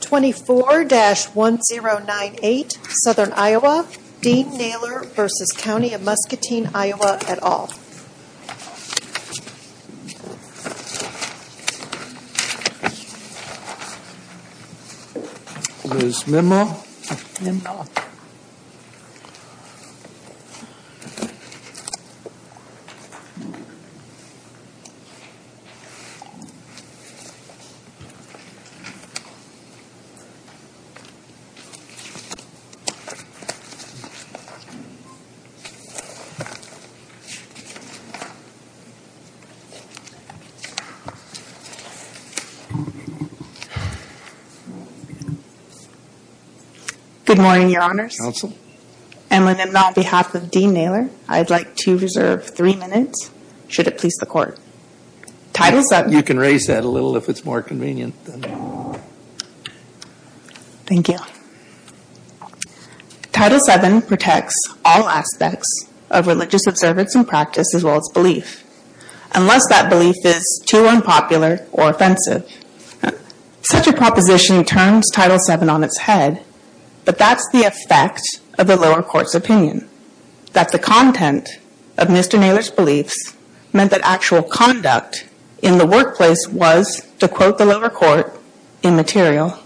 24-1098 Southern Iowa, Dean Naylor v. County of Muscatine, Iowa et al. Good morning, Your Honors. Emlyn, on behalf of Dean Naylor, I'd like to reserve three minutes, should it please the Court. Title 7. You can raise that a little if it's more convenient. Thank you. Title 7 protects all aspects of religious observance and practice as well as belief, unless that belief is too unpopular or offensive. Such a proposition turns Title 7 on its head, but that's the effect of the lower court's opinion. content of Mr. Naylor's beliefs meant that actual conduct in the workplace was, to quote the lower court, immaterial.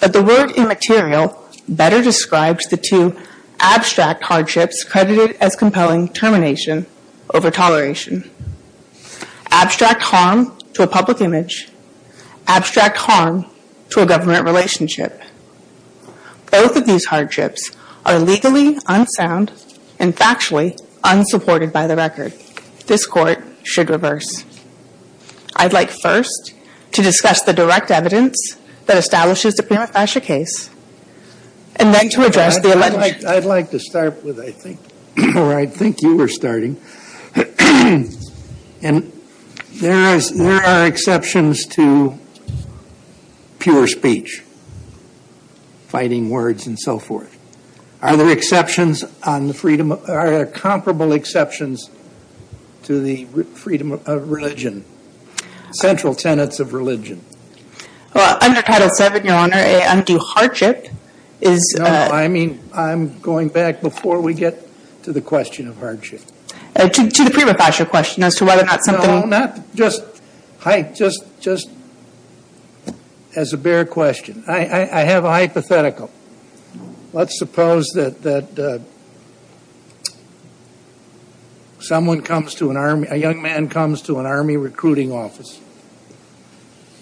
But the word immaterial better describes the two abstract hardships credited as compelling termination over toleration. Abstract harm to a public image. Abstract harm to a government relationship. Both of these hardships are legally unsound and factually unsupported by the record. This Court should reverse. I'd like first to discuss the direct evidence that establishes the Prima Fascia case, and then to address the allegation. I'd like to start with, I think, or I think you were starting, and there are exceptions to pure speech, fighting words, and so forth. Are there exceptions on the freedom, are there comparable exceptions to the freedom of religion? Central tenets of religion. Well, under Title 7, Your Honor, an undue hardship is No, I mean, I'm going back before we get to the question of hardship. To the Prima Fascia question as to whether or not something No, not just height, just as a bare question. I have a hypothetical. Let's suppose that someone comes to an army, a young man comes to an army recruiting office,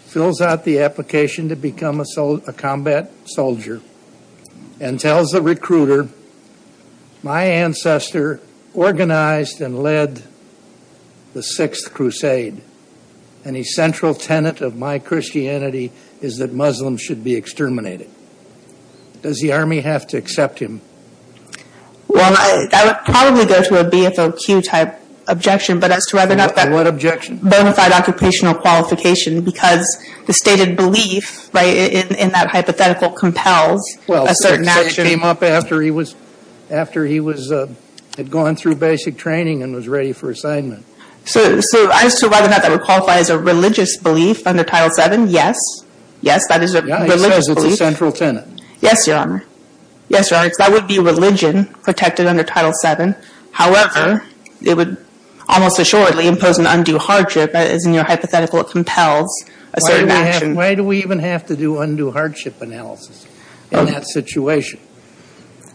fills out the application to become a combat soldier, and tells the recruiter, my ancestor organized and led the Sixth Crusade, and the central tenet of my Christianity is that Muslims should be exterminated. Does the army have to accept him? Well, I would probably go to a BFOQ type objection, but as to whether or not that What objection? Bonafide occupational qualification, because the stated belief in that hypothetical compels a certain action. Objection came up after he had gone through basic training and was ready for assignment. So as to whether or not that would qualify as a religious belief under Title 7, yes. Yes. That is a religious belief. Yeah. He says it's a central tenet. Yes, Your Honor. Yes, Your Honor. Because that would be religion protected under Title 7. However, it would almost assuredly impose an undue hardship, as in your hypothetical it compels a certain action. Why do we even have to do undue hardship analysis in that situation?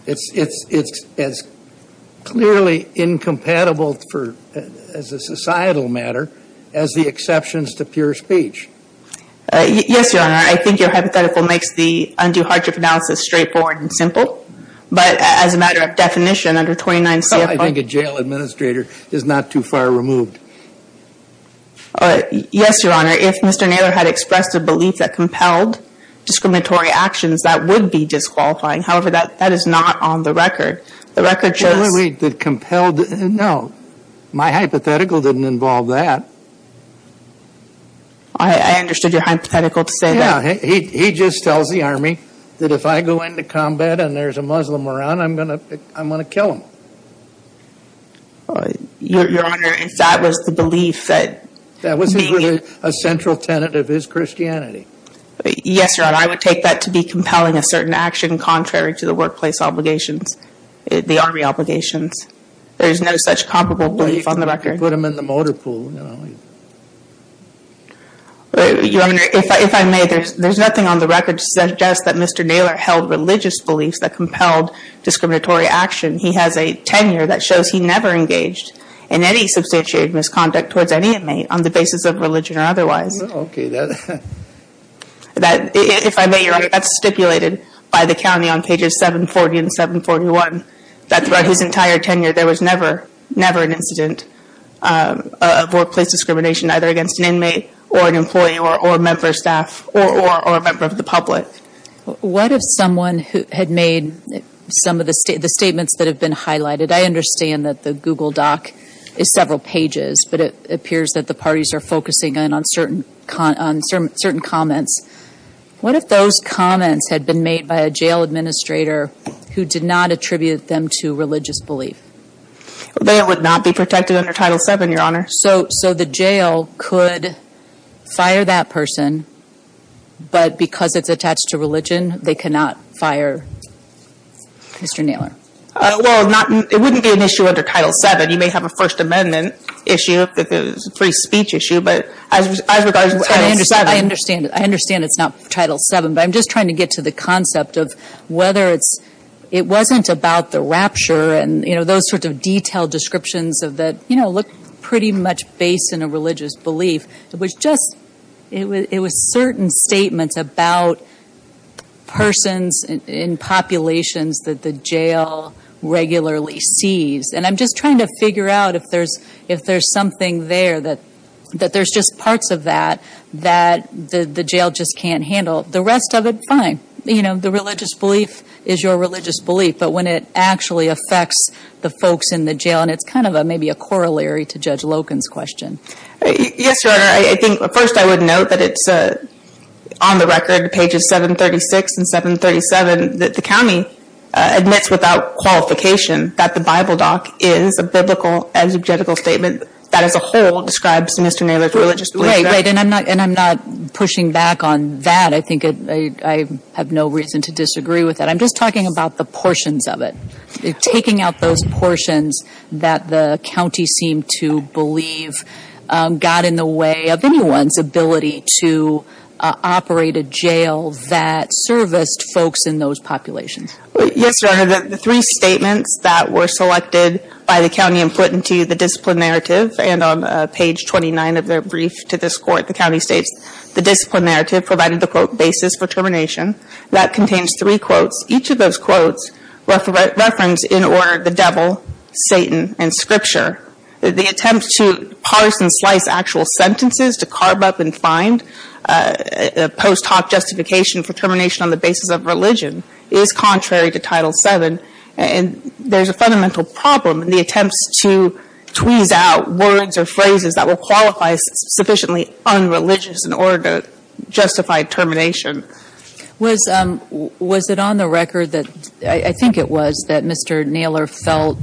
It's as clearly incompatible as a societal matter as the exceptions to pure speech. Yes, Your Honor. I think your hypothetical makes the undue hardship analysis straightforward and simple. But as a matter of definition, under 29 CFR. I think a jail administrator is not too far removed. Yes, Your Honor. If Mr. Naylor had expressed a belief that compelled discriminatory actions, that would be disqualifying. However, that is not on the record. The record shows. Wait, wait, wait. No. My hypothetical didn't involve that. I understood your hypothetical to say that. Yeah. He just tells the Army that if I go into combat and there's a Muslim around, I'm going to kill him. Your Honor, if that was the belief that. That was a central tenet of his Christianity. Yes, Your Honor. I would take that to be compelling a certain action contrary to the workplace obligations, the Army obligations. There is no such comparable belief on the record. Put him in the motor pool. Your Honor, if I may, there's nothing on the record to suggest that Mr. Naylor held religious beliefs that compelled discriminatory action. He has a tenure that shows he never engaged in any substantiated misconduct towards any inmate on the basis of religion or otherwise. That, if I may, Your Honor, that's stipulated by the county on pages 740 and 741. That throughout his entire tenure, there was never, never an incident of workplace discrimination either against an inmate or an employee or a member of staff or a member of the public. What if someone had made some of the statements that have been highlighted? I understand that the Google Doc is several pages, but it appears that the parties are focusing in on certain comments. What if those comments had been made by a jail administrator who did not attribute them to religious belief? They would not be protected under Title VII, Your Honor. So the jail could fire that person, but because it's attached to religion, they cannot fire Mr. Naylor? Well, it wouldn't be an issue under Title VII. You may have a First Amendment issue, a free speech issue, but as regards to Title VII. I understand it's not Title VII, but I'm just trying to get to the concept of whether it's – it wasn't about the rapture and, you know, those sorts of detailed descriptions of that, you know, look pretty much based in a religious belief. It was just – it was certain statements about persons in populations that the jail regularly sees. And I'm just trying to figure out if there's something there that – that there's just parts of that that the jail just can't handle. The rest of it, fine. You know, the religious belief is your religious belief, but when it actually affects the folks in the jail, and it's kind of a – maybe a corollary to Judge Loken's question. Yes, Your Honor. I think – first, I would note that it's on the record, pages 736 and 737, that the county admits without qualification that the Bible doc is a biblical and subjectical statement that as a whole describes Mr. Naylor's religious belief. Right, right. And I'm not – and I'm not pushing back on that. I think I have no reason to disagree with that. I'm just talking about the portions of it. Taking out those portions that the county seemed to believe got in the way of anyone's ability to operate a jail that serviced folks in those populations. Yes, Your Honor. The three statements that were selected by the county and put into the discipline narrative, and on page 29 of their brief to this Court, the county states the discipline narrative provided the quote, basis for termination. That contains three quotes. Each of those quotes reference, in order, the devil, Satan, and scripture. The attempt to parse and slice actual sentences to carve up and find a post hoc justification for termination on the basis of religion is contrary to Title VII. And there's a fundamental problem in the attempts to tweeze out words or phrases that will qualify sufficiently unreligious in order to justify termination. Was it on the record that – I think it was – that Mr. Naylor felt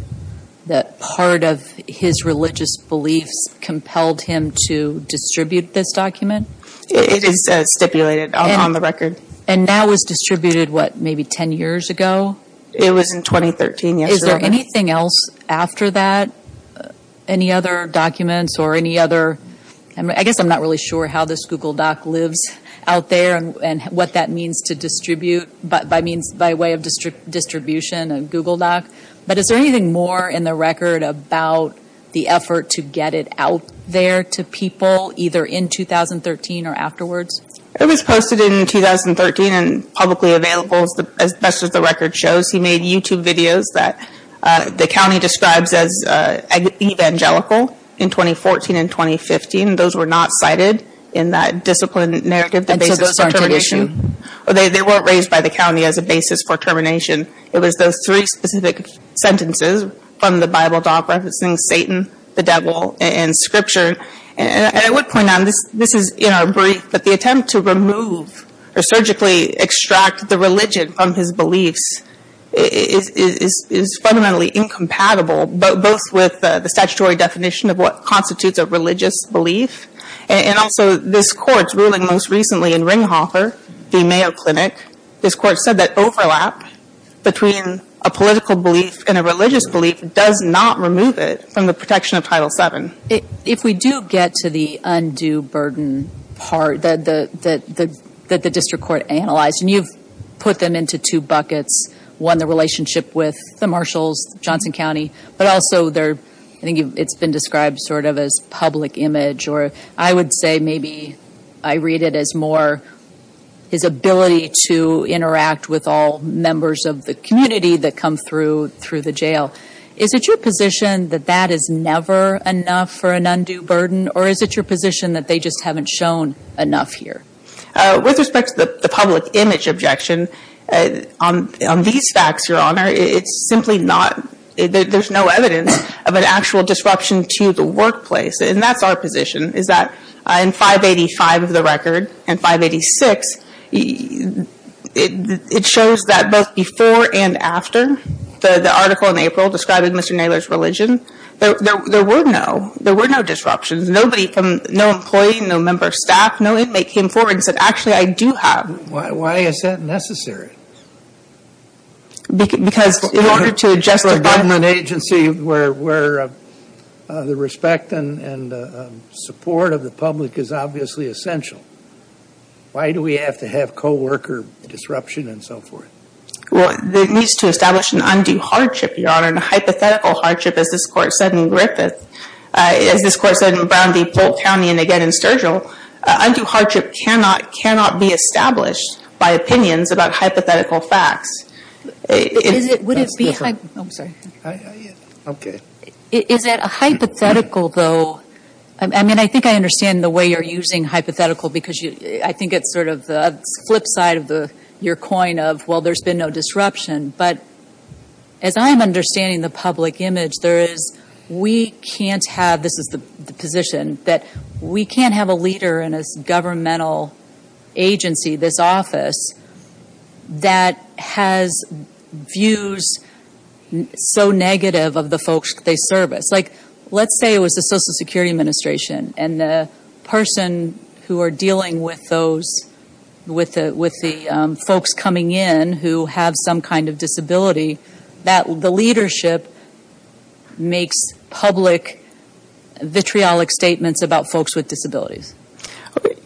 that part of his religious beliefs compelled him to distribute this document? It is stipulated on the record. And now it was distributed, what, maybe 10 years ago? It was in 2013, yes, Your Honor. Is there anything else after that? Any other documents or any other – I guess I'm not really sure how this Google Doc lives out there and what that means to distribute, by means – by way of distribution and Google Doc. But is there anything more in the record about the effort to get it out there to people, either in 2013 or afterwards? It was posted in 2013 and publicly available, as best as the record shows. He made YouTube videos that the county describes as evangelical in 2014 and 2015. Those were not cited in that discipline narrative, the basis for termination. They weren't raised by the county as a basis for termination. It was those three specific sentences from the Bible Doc referencing Satan, the devil, and scripture. And I would point out, this is in our brief, but the attempt to remove or surgically extract the religion from his beliefs is fundamentally incompatible, both with the statutory definition of what constitutes a religious belief and also this Court's ruling most recently in Ringhofer v. Mayo Clinic. This Court said that overlap between a political belief and a religious belief does not remove it from the protection of Title VII. If we do get to the undue burden part that the district court analyzed, and you've put them into two buckets, one, the relationship with the marshals, Johnson County, but also I think it's been described sort of as public image, or I would say maybe I read it as more his ability to interact with all members of the community that come through the jail. Is it your position that that is never enough for an undue burden, or is it your position that they just haven't shown enough here? With respect to the public image objection, on these facts, Your Honor, it's simply not there's no evidence of an actual disruption to the workplace, and that's our position, is that in 585 of the record and 586, it shows that both before and after the article in April describing Mr. Naylor's religion, there were no disruptions. No employee, no member of staff, no inmate came forward and said, actually, I do have. Why is that necessary? Because in order to justify... For a government agency where the respect and support of the public is obviously essential, why do we have to have co-worker disruption and so forth? Well, it needs to establish an undue hardship, Your Honor, and a hypothetical hardship, as this Court said in Griffith, as this Court said in Brown v. Polk County and again in the original, undue hardship cannot be established by opinions about hypothetical facts. Would it be... I'm sorry. I'm good. Is it a hypothetical, though, I mean, I think I understand the way you're using hypothetical because I think it's sort of the flip side of your coin of, well, there's been no disruption, but as I'm understanding the public image, there is, we can't have, this is the position that we can't have a leader in a governmental agency, this office, that has views so negative of the folks they service. Like, let's say it was the Social Security Administration and the person who are dealing with those, with the folks coming in who have some kind of disability, that the leadership makes public, vitriolic statements about folks with disabilities.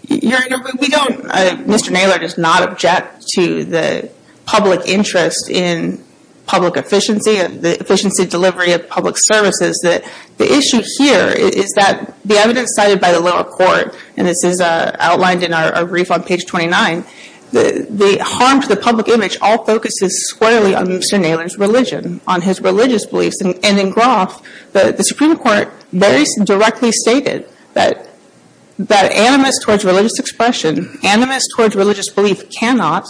Your Honor, we don't, Mr. Naylor does not object to the public interest in public efficiency and the efficiency of delivery of public services. The issue here is that the evidence cited by the lower court, and this is outlined in our brief on page 29, the harm to the public image all focuses squarely on Mr. Naylor's religion, on his religious beliefs, and in Groff, the Supreme Court very directly stated that animus towards religious expression, animus towards religious belief cannot,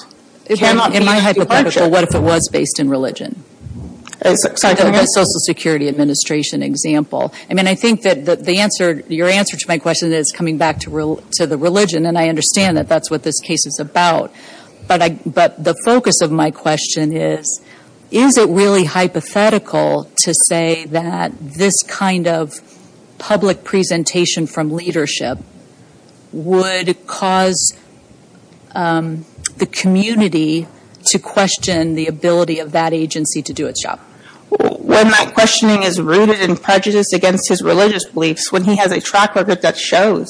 cannot be departure. In my hypothetical, what if it was based in religion? Sorry, go ahead. The Social Security Administration example. I mean, I think that the answer, your answer to my question is coming back to the religion, and I understand that that's what this case is about, but the focus of my question is, is it really hypothetical to say that this kind of public presentation from leadership would cause the community to question the ability of that agency to do its job? When that questioning is rooted in prejudice against his religious beliefs, when he has a track record that shows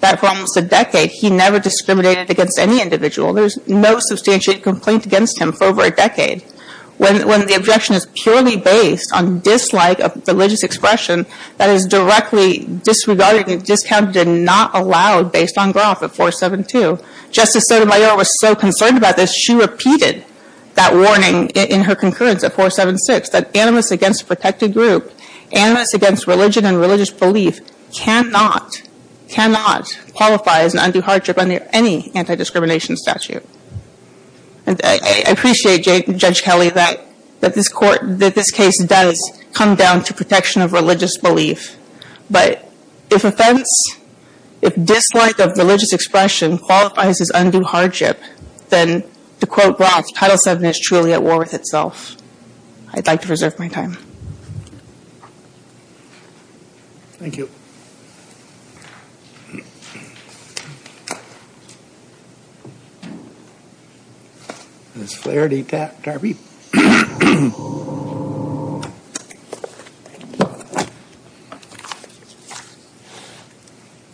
that for almost a decade he never discriminated against any individual, there's no substantiated complaint against him for over a decade, when the objection is purely based on dislike of religious expression, that is directly disregarded and discounted and not allowed based on Groff at 472. Justice Sotomayor was so concerned about this, she repeated that warning in her concurrence at 476, that animus against a protected group, animus against religion and religious belief cannot, cannot qualify as an undue hardship under any anti-discrimination statute. And I appreciate, Judge Kelly, that this court, that this case does come down to protection of religious belief, but if offense, if dislike of religious expression qualifies as undue hardship, then to quote Groff, Title VII is truly at war with itself. I'd like to reserve my time. Thank you. Ms. Flaherty-Tarpey.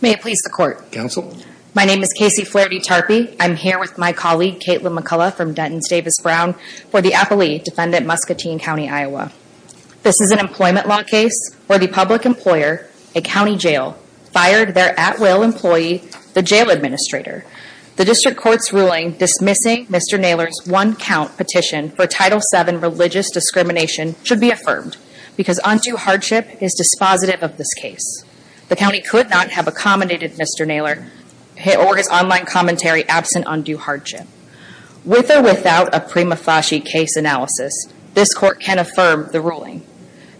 May it please the Court. Counsel. My name is Kasey Flaherty-Tarpey. I'm here with my colleague, Kaitlin McCullough from Denton's Davis Brown, for the Apolli Defendant Muscatine County, Iowa. This is an employment law case where the public employer, a county jail, fired their at-will employee, the jail administrator. The district court's ruling dismissing Mr. Naylor's one-count petition for Title VII religious discrimination should be affirmed because undue hardship is dispositive of this case. The county could not have accommodated Mr. Naylor or his online commentary absent undue hardship. With or without a prima facie case analysis, this court can affirm the ruling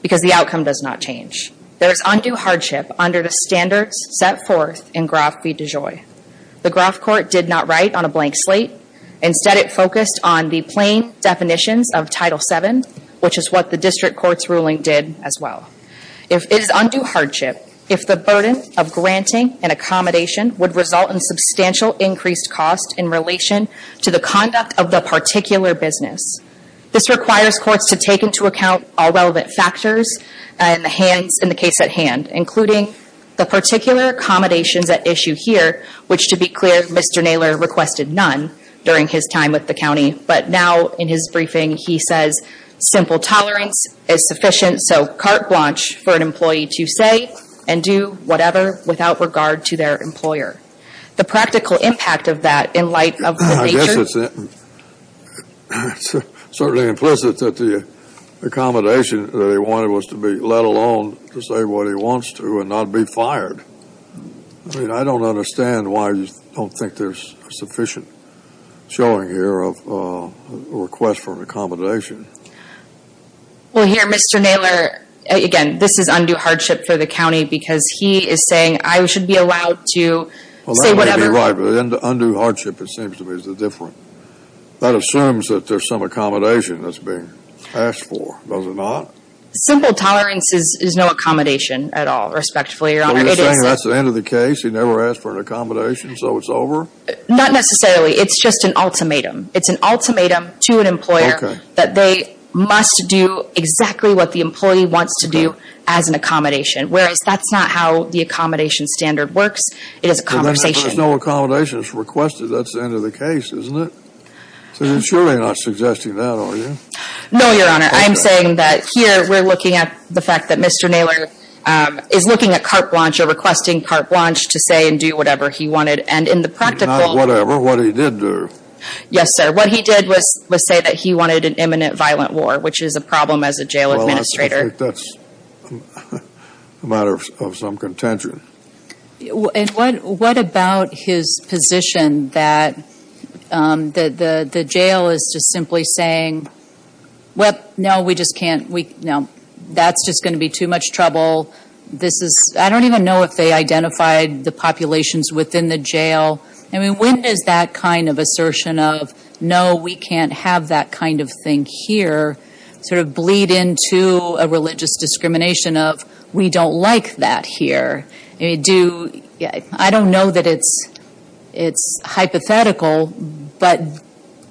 because the outcome does not change. There is undue hardship under the standards set forth in Groff v. DeJoy. The Groff court did not write on a blank slate. Instead, it focused on the plain definitions of Title VII, which is what the district court's ruling did as well. If it is undue hardship, if the burden of granting an accommodation would result in undue hardship to the conduct of the particular business. This requires courts to take into account all relevant factors in the case at hand, including the particular accommodations at issue here, which to be clear, Mr. Naylor requested none during his time with the county. But now in his briefing, he says simple tolerance is sufficient, so carte blanche for an employee to say and do whatever without regard to their employer. The practical impact of that in light of the nature... I guess it's certainly implicit that the accommodation that he wanted was to be let alone to say what he wants to and not be fired. I mean, I don't understand why you don't think there's sufficient showing here of a request for an accommodation. Well, here, Mr. Naylor, again, this is undue hardship for the county because he is saying I should be allowed to say whatever... Well, that may be right, but undue hardship, it seems to me, is the difference. That assumes that there's some accommodation that's being asked for, does it not? Simple tolerance is no accommodation at all, respectfully, Your Honor. So you're saying that's the end of the case? He never asked for an accommodation, so it's over? Not necessarily. It's just an ultimatum. It's an ultimatum to an employer that they must do exactly what the employee wants to do as an accommodation, whereas that's not how the accommodation standard works. It is a conversation. But there's no accommodations requested. That's the end of the case, isn't it? So you're surely not suggesting that, are you? No, Your Honor. I'm saying that here we're looking at the fact that Mr. Naylor is looking at carte blanche or requesting carte blanche to say and do whatever he wanted. And in the practical... Not whatever. What he did do. Yes, sir. What he did was say that he wanted an imminent violent war, which is a problem as a jail administrator. I think that's a matter of some contention. And what about his position that the jail is just simply saying, no, that's just going to be too much trouble. I don't even know if they identified the populations within the jail. I mean, when does that kind of assertion of, no, we can't have that kind of thing here, sort of bleed into a religious discrimination of, we don't like that here. I don't know that it's hypothetical, but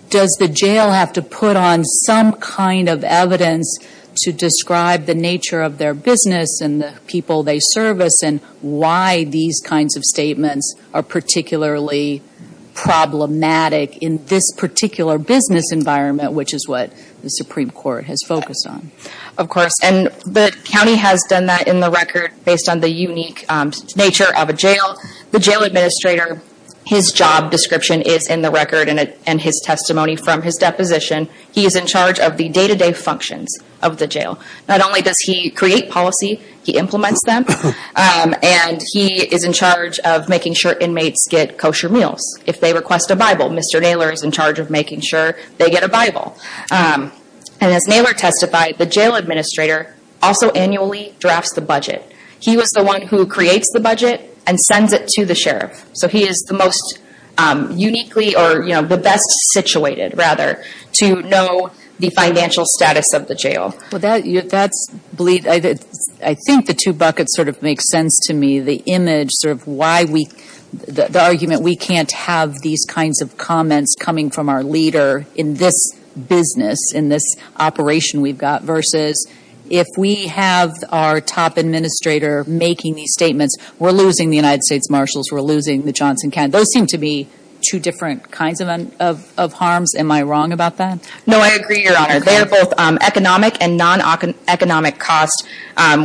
does the jail have to put on some kind of evidence to describe the nature of their business and the people they service and why these kinds of statements are particularly problematic in this particular business environment, which is what the Supreme Court has focused on? Of course. And the county has done that in the record based on the unique nature of a jail. The jail administrator, his job description is in the record and his testimony from his deposition. He is in charge of the day-to-day functions of the jail. Not only does he create policy, he implements them. And he is in charge of making sure inmates get kosher meals. If they request a Bible, Mr. Naylor is in charge of making sure they get a Bible. And as Naylor testified, the jail administrator also annually drafts the budget. He was the one who creates the budget and sends it to the sheriff. So he is the most uniquely or the best situated, rather, to know the financial status of the jail. Well, that's bleak. I think the two buckets sort of make sense to me. The image, sort of why we, the argument we can't have these kinds of comments coming from our leader in this business, in this operation we've got, versus if we have our top administrator making these statements, we're losing the United States Marshals, we're losing the Johnson County. Those seem to be two different kinds of harms. Am I wrong about that? No, I agree, Your Honor. They're both economic and non-economic costs,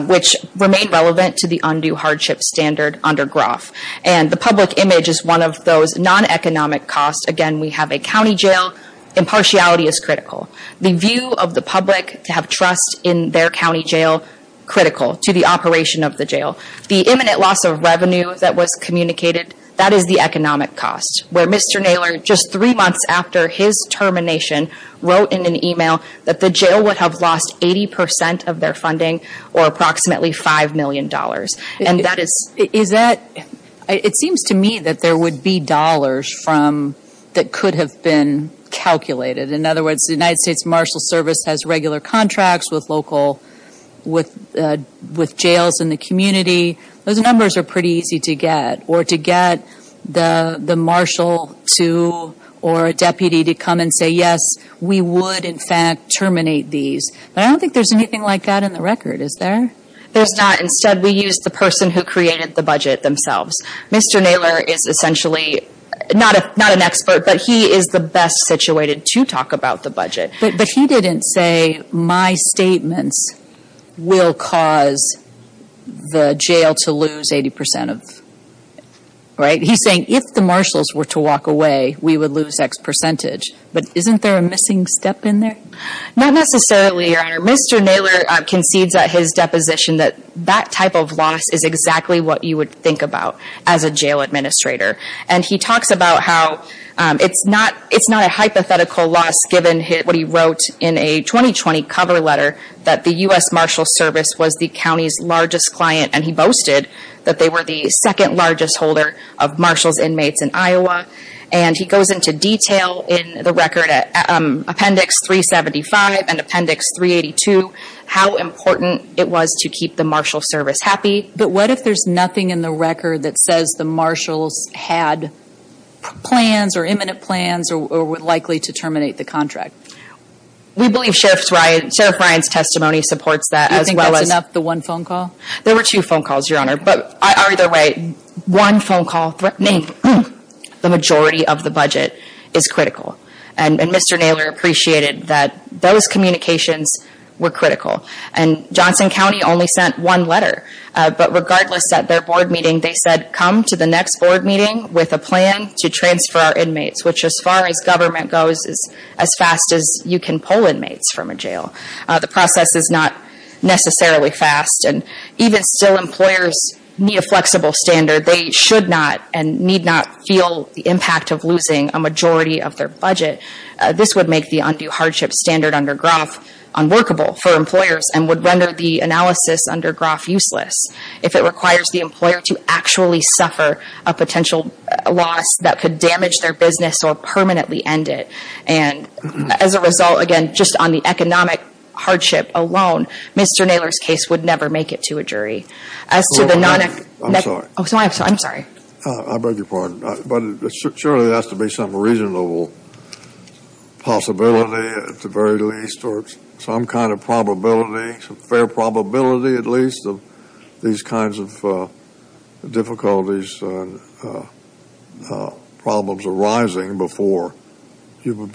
which remain relevant to the undue hardship standard under Groff. And the public image is one of those non-economic costs. Again, we have a county jail. Impartiality is critical. The view of the public to have trust in their county jail, critical to the operation of the jail. The imminent loss of revenue that was communicated, that is the economic cost, where Mr. Naylor, just three months after his termination, wrote in an email that the jail would have lost 80% of their funding, or approximately $5 million. And that is... Is that, it seems to me that there would be dollars from, that could have been calculated. In other words, the United States Marshal Service has regular contracts with local, with jails in the community. Those numbers are pretty easy to get, or to get the marshal to, or a deputy to come and say, yes, we would, in fact, terminate these. But I don't think there's anything like that in the record, is there? There's not. Instead, we used the person who created the budget themselves. Mr. Naylor is essentially not an expert, but he is the best situated to talk about the budget. But he didn't say, my statements will cause the jail to lose 80% of, right? He's saying, if the marshals were to walk away, we would lose X percentage. But isn't there a missing step in there? Not necessarily, Your Honor. Mr. Naylor concedes at his deposition that that type of loss is exactly what you would think about as a jail administrator. And he talks about how it's not a hypothetical loss, given what he wrote in a 2020 cover letter, that the U.S. Marshal Service was the county's largest client, and he boasted that they were the second largest holder of marshals inmates in Iowa. And he goes into detail in the record, Appendix 375 and Appendix 382, how important it was to keep the Marshal Service happy. But what if there's nothing in the record that says the marshals had plans or imminent plans or were likely to terminate the contract? We believe Sheriff Ryan's testimony supports that as well as... Do you think that's enough, the one phone call? There were two phone calls, Your Honor. But either way, one phone call threatening the majority of the budget is critical. And Mr. Naylor appreciated that those communications were critical. And Johnson County only sent one letter. But regardless, at their board meeting, they said, come to the next board meeting with a plan to transfer our inmates, which, as far as government goes, is as fast as you can pull inmates from a jail. The process is not necessarily fast. And even still employers need a flexible standard. They should not and need not feel the impact of losing a majority of their budget. This would make the undue hardship standard under Groff unworkable for employers and would render the analysis under Groff useless if it requires the employer to actually suffer a potential loss that could damage their business or permanently end it. And as a result, again, just on the economic hardship alone, Mr. Naylor's case would never make it to a jury. As to the non- I'm sorry. I'm sorry. I beg your pardon. But surely there has to be some reasonable possibility at the very least or some kind of probability, some fair probability at least, of these kinds of difficulties and problems arising before you would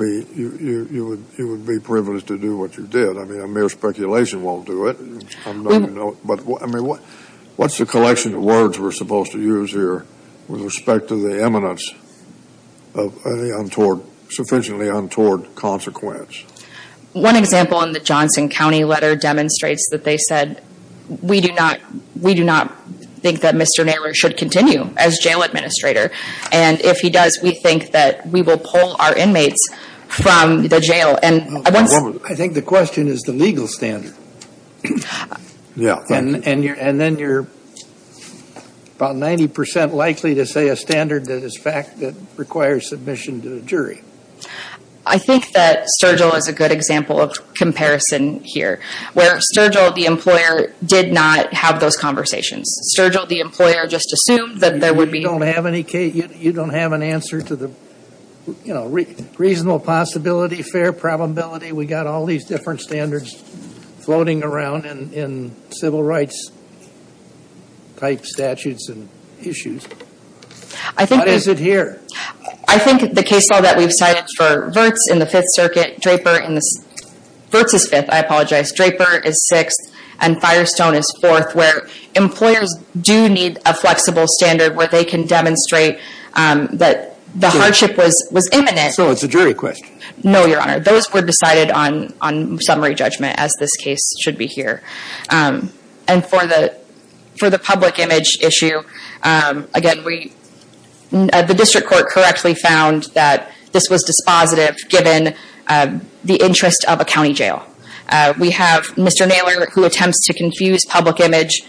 be privileged to do what you did. I mean, a mere speculation won't do it. But, I mean, what's the collection of words we're supposed to use here with respect to the eminence of sufficiently untoward consequence? One example in the Johnson County letter demonstrates that they said, we do not think that Mr. Naylor should continue as jail administrator. And if he does, we think that we will pull our inmates from the jail. I think the question is the legal standard. And then you're about 90% likely to say a standard that is fact that requires submission to the jury. I think that Sturgill is a good example of comparison here, where Sturgill, the employer, did not have those conversations. Sturgill, the employer, just assumed that there would be- You don't have an answer to the, you know, reasonable possibility, fair probability. We've got all these different standards floating around in civil rights-type statutes and issues. What is it here? I think the case law that we've cited for Virts in the Fifth Circuit, Draper in the- Virts is fifth, I apologize. Draper is sixth, and Firestone is fourth, where employers do need a flexible standard where they can demonstrate that the hardship was imminent. So it's a jury question. No, Your Honor. Those were decided on summary judgment, as this case should be here. And for the public image issue, again, the district court correctly found that this was dispositive, given the interest of a county jail. We have Mr. Naylor, who attempts to confuse public image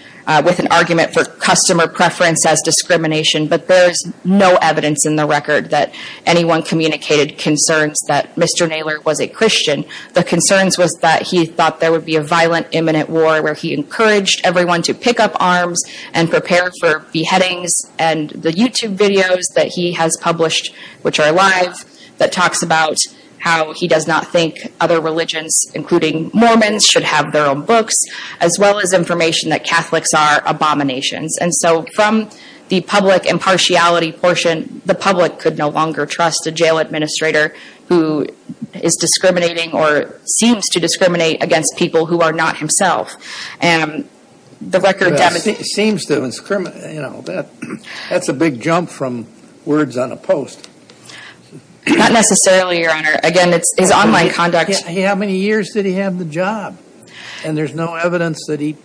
with an argument for customer preference as discrimination. But there's no evidence in the record that anyone communicated concerns that Mr. Naylor was a Christian. The concerns was that he thought there would be a violent, imminent war, where he encouraged everyone to pick up arms and prepare for beheadings. And the YouTube videos that he has published, which are live, that talks about how he does not think other religions, including Mormons, should have their own books, as well as information that Catholics are abominations. And so from the public impartiality portion, the public could no longer trust a jail administrator who is discriminating or seems to discriminate against people who are not himself. And the record demonstrates that. Seems to discriminate. That's a big jump from words on a post. Not necessarily, Your Honor. Again, it's his online conduct. How many years did he have the job? And there's no evidence that he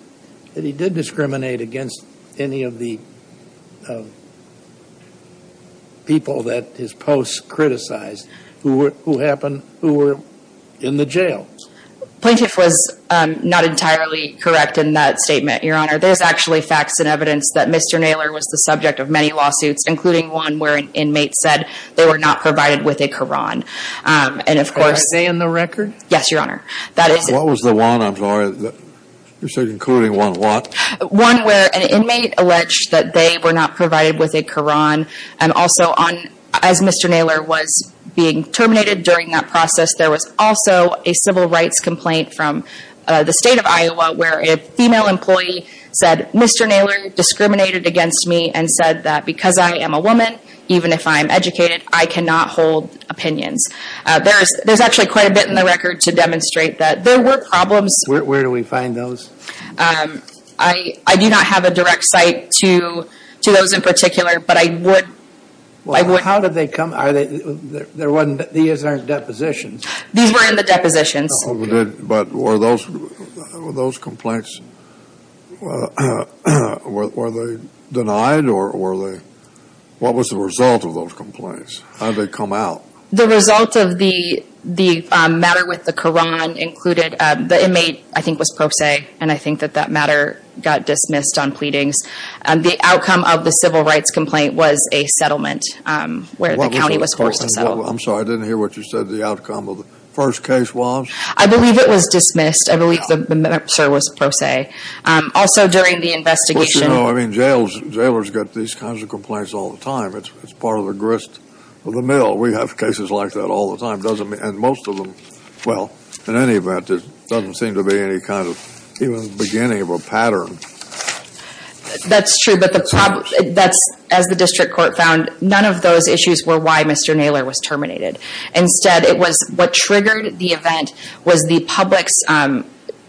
did discriminate against any of the people that his posts criticized, who were in the jail. Plaintiff was not entirely correct in that statement, Your Honor. There's actually facts and evidence that Mr. Naylor was the subject of many lawsuits, including one where an inmate said they were not provided with a Quran. And, of course, Were they in the record? Yes, Your Honor. What was the one? I'm sorry. You said including one what? One where an inmate alleged that they were not provided with a Quran. And also, as Mr. Naylor was being terminated during that process, there was also a civil rights complaint from the state of Iowa where a female employee said, Mr. Naylor discriminated against me and said that because I am a woman, even if I am educated, I cannot hold opinions. There's actually quite a bit in the record to demonstrate that there were problems. Where do we find those? I do not have a direct site to those in particular, but I would. Well, how did they come? These aren't depositions. These were in the depositions. But were those complaints denied? What was the result of those complaints? How did they come out? The result of the matter with the Quran included the inmate, I think, was pro se, and I think that that matter got dismissed on pleadings. The outcome of the civil rights complaint was a settlement where the county was forced to settle. I'm sorry. I didn't hear what you said. The outcome of the first case was? I believe it was dismissed. I believe the minister was pro se. Also, during the investigation. I mean, jailers get these kinds of complaints all the time. It's part of the grist of the mill. We have cases like that all the time. And most of them, well, in any event, there doesn't seem to be any kind of beginning of a pattern. That's true, but as the district court found, none of those issues were why Mr. Naylor was terminated. Instead, it was what triggered the event was the public's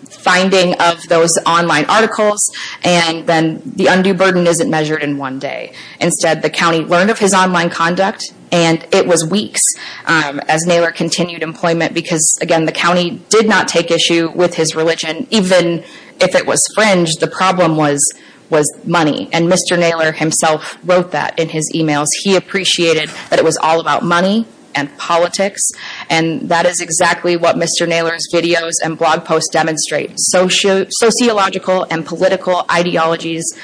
finding of those online articles, and then the undue burden isn't measured in one day. Instead, the county learned of his online conduct, and it was weeks as Naylor continued employment, because, again, the county did not take issue with his religion. Even if it was fringe, the problem was money, and Mr. Naylor himself wrote that in his e-mails. He appreciated that it was all about money and politics, and that is exactly what Mr. Naylor's videos and blog posts demonstrate, sociological and political ideologies.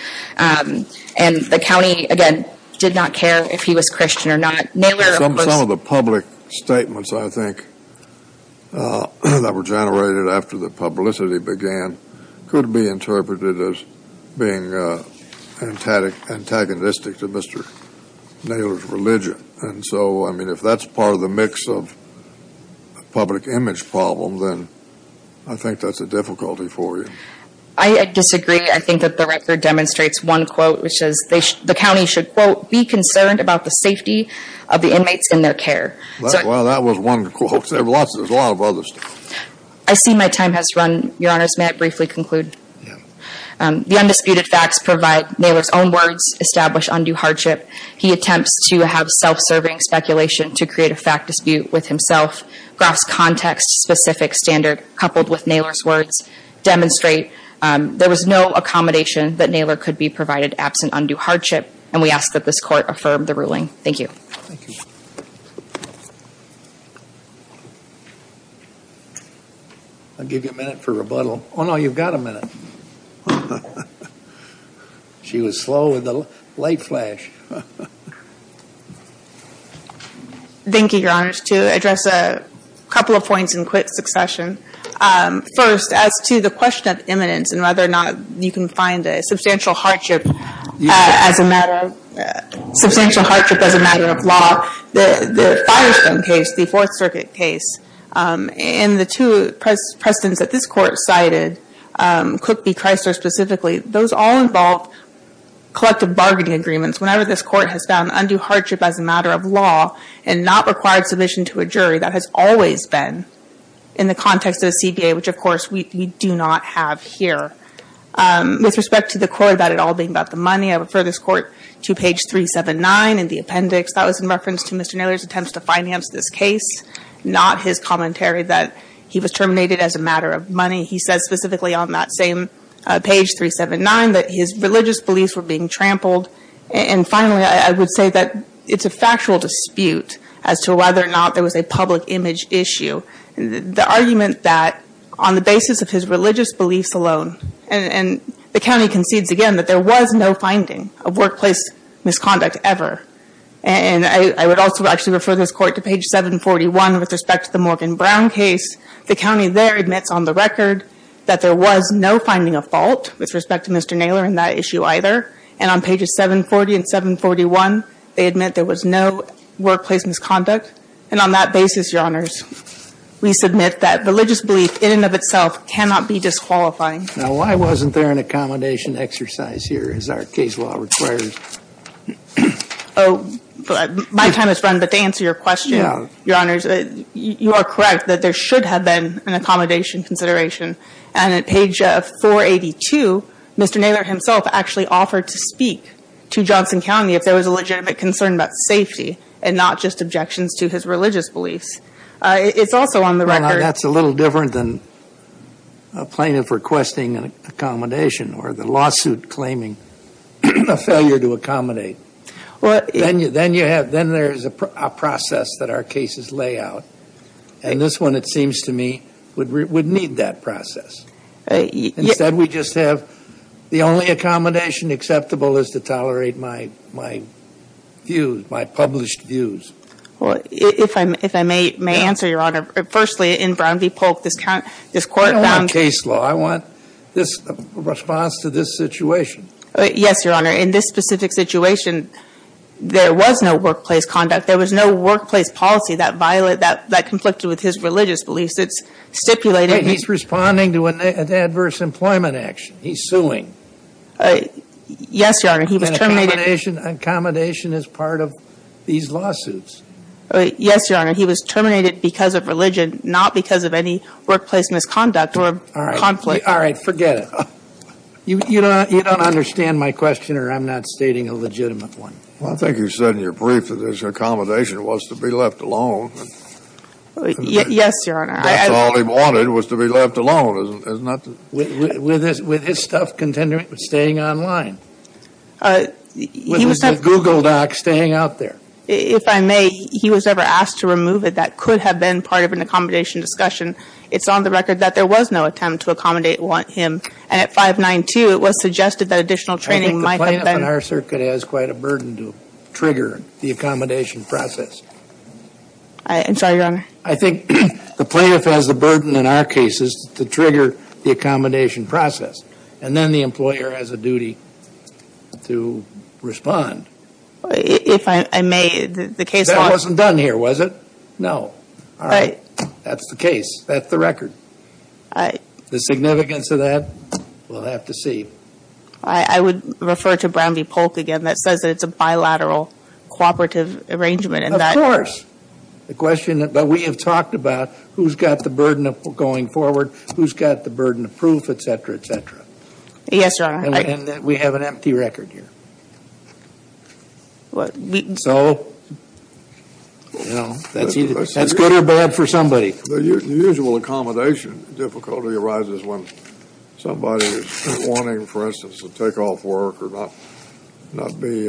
And the county, again, did not care if he was Christian or not. Naylor, of course— Some of the public statements, I think, that were generated after the publicity began could be interpreted as being antagonistic to Mr. Naylor's religion. And so, I mean, if that's part of the mix of public image problem, then I think that's a difficulty for you. I disagree. I think that the record demonstrates one quote, which is the county should, quote, be concerned about the safety of the inmates in their care. Well, that was one quote. There's a lot of other stuff. I see my time has run, Your Honors. May I briefly conclude? Yeah. The undisputed facts provide Naylor's own words, establish undue hardship. He attempts to have self-serving speculation to create a fact dispute with himself. Groff's context-specific standard, coupled with Naylor's words, demonstrate there was no accommodation that Naylor could be provided absent undue hardship, and we ask that this court affirm the ruling. Thank you. Thank you. I'll give you a minute for rebuttal. Oh, no, you've got a minute. She was slow with the light flash. Thank you, Your Honors. To address a couple of points in quick succession. First, as to the question of imminence and whether or not you can find a substantial hardship as a matter of law, the Firestone case, the Fourth Circuit case, and the two precedents that this court cited, Cook v. Chrysler specifically, those all involve collective bargaining agreements. Whenever this court has found undue hardship as a matter of law and not required submission to a jury, that has always been in the context of the CBA, which, of course, we do not have here. With respect to the court about it all being about the money, I refer this court to page 379 in the appendix. That was in reference to Mr. Naylor's attempts to finance this case, not his commentary that he was terminated as a matter of money. He says specifically on that same page, 379, that his religious beliefs were being trampled. And finally, I would say that it's a factual dispute as to whether or not there was a public image issue. The argument that on the basis of his religious beliefs alone, and the county concedes again that there was no finding of workplace misconduct ever. And I would also actually refer this court to page 741 with respect to the Morgan Brown case. The county there admits on the record that there was no finding of fault with respect to Mr. Naylor in that issue either. And on pages 740 and 741, they admit there was no workplace misconduct. And on that basis, Your Honors, we submit that religious belief in and of itself cannot be disqualifying. Now, why wasn't there an accommodation exercise here as our case law requires? Oh, my time has run, but to answer your question, Your Honors, you are correct that there should have been an accommodation consideration. And at page 482, Mr. Naylor himself actually offered to speak to Johnson County if there was a legitimate concern about safety and not just objections to his religious beliefs. It's also on the record. That's a little different than a plaintiff requesting an accommodation or the lawsuit claiming a failure to accommodate. Then there's a process that our cases lay out. And this one, it seems to me, would need that process. Instead, we just have the only accommodation acceptable is to tolerate my views, my published views. Well, if I may answer, Your Honor, firstly, in Brown v. Polk, this court found – I don't want case law. I want a response to this situation. Yes, Your Honor. In this specific situation, there was no workplace conduct. There was no workplace policy that violated – that conflicted with his religious beliefs. It stipulated – He's responding to an adverse employment action. He's suing. Yes, Your Honor. He was terminated – An accommodation is part of these lawsuits. Yes, Your Honor. He was terminated because of religion, not because of any workplace misconduct or conflict. All right. Forget it. You don't understand my question, or I'm not stating a legitimate one. Well, I think you said in your brief that his accommodation was to be left alone. Yes, Your Honor. That's all he wanted was to be left alone, is not to – With his stuff staying online. He was – With the Google Docs staying out there. If I may, he was never asked to remove it. That could have been part of an accommodation discussion. It's on the record that there was no attempt to accommodate him. And at 592, it was suggested that additional training might have been – I think the plaintiff in our circuit has quite a burden to trigger the accommodation process. I'm sorry, Your Honor. I think the plaintiff has the burden in our cases to trigger the accommodation process. And then the employer has a duty to respond. If I may, the case – That wasn't done here, was it? No. All right. That's the case. That's the record. The significance of that, we'll have to see. I would refer to Brown v. Polk again. That says that it's a bilateral cooperative arrangement. Of course. The question that – but we have talked about who's got the burden of going forward, who's got the burden of proof, et cetera, et cetera. Yes, Your Honor. And that we have an empty record here. So, you know, that's either – That's good or bad for somebody. The usual accommodation difficulty arises when somebody is wanting, for instance, to take off work or not be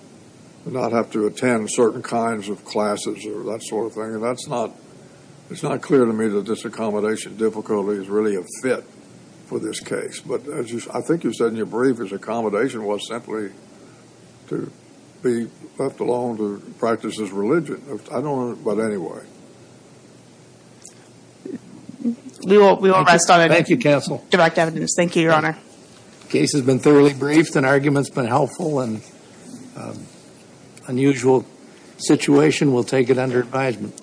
– not have to attend certain kinds of classes or that sort of thing. And that's not – it's not clear to me that this accommodation difficulty is really a fit for this case. But as you – I think you said in your brief, his accommodation was simply to be left alone to practice his religion. I don't – but anyway. We will rest on a – Thank you, counsel. – direct evidence. Thank you, Your Honor. The case has been thoroughly briefed. An argument's been helpful. An unusual situation. We'll take it under advisement.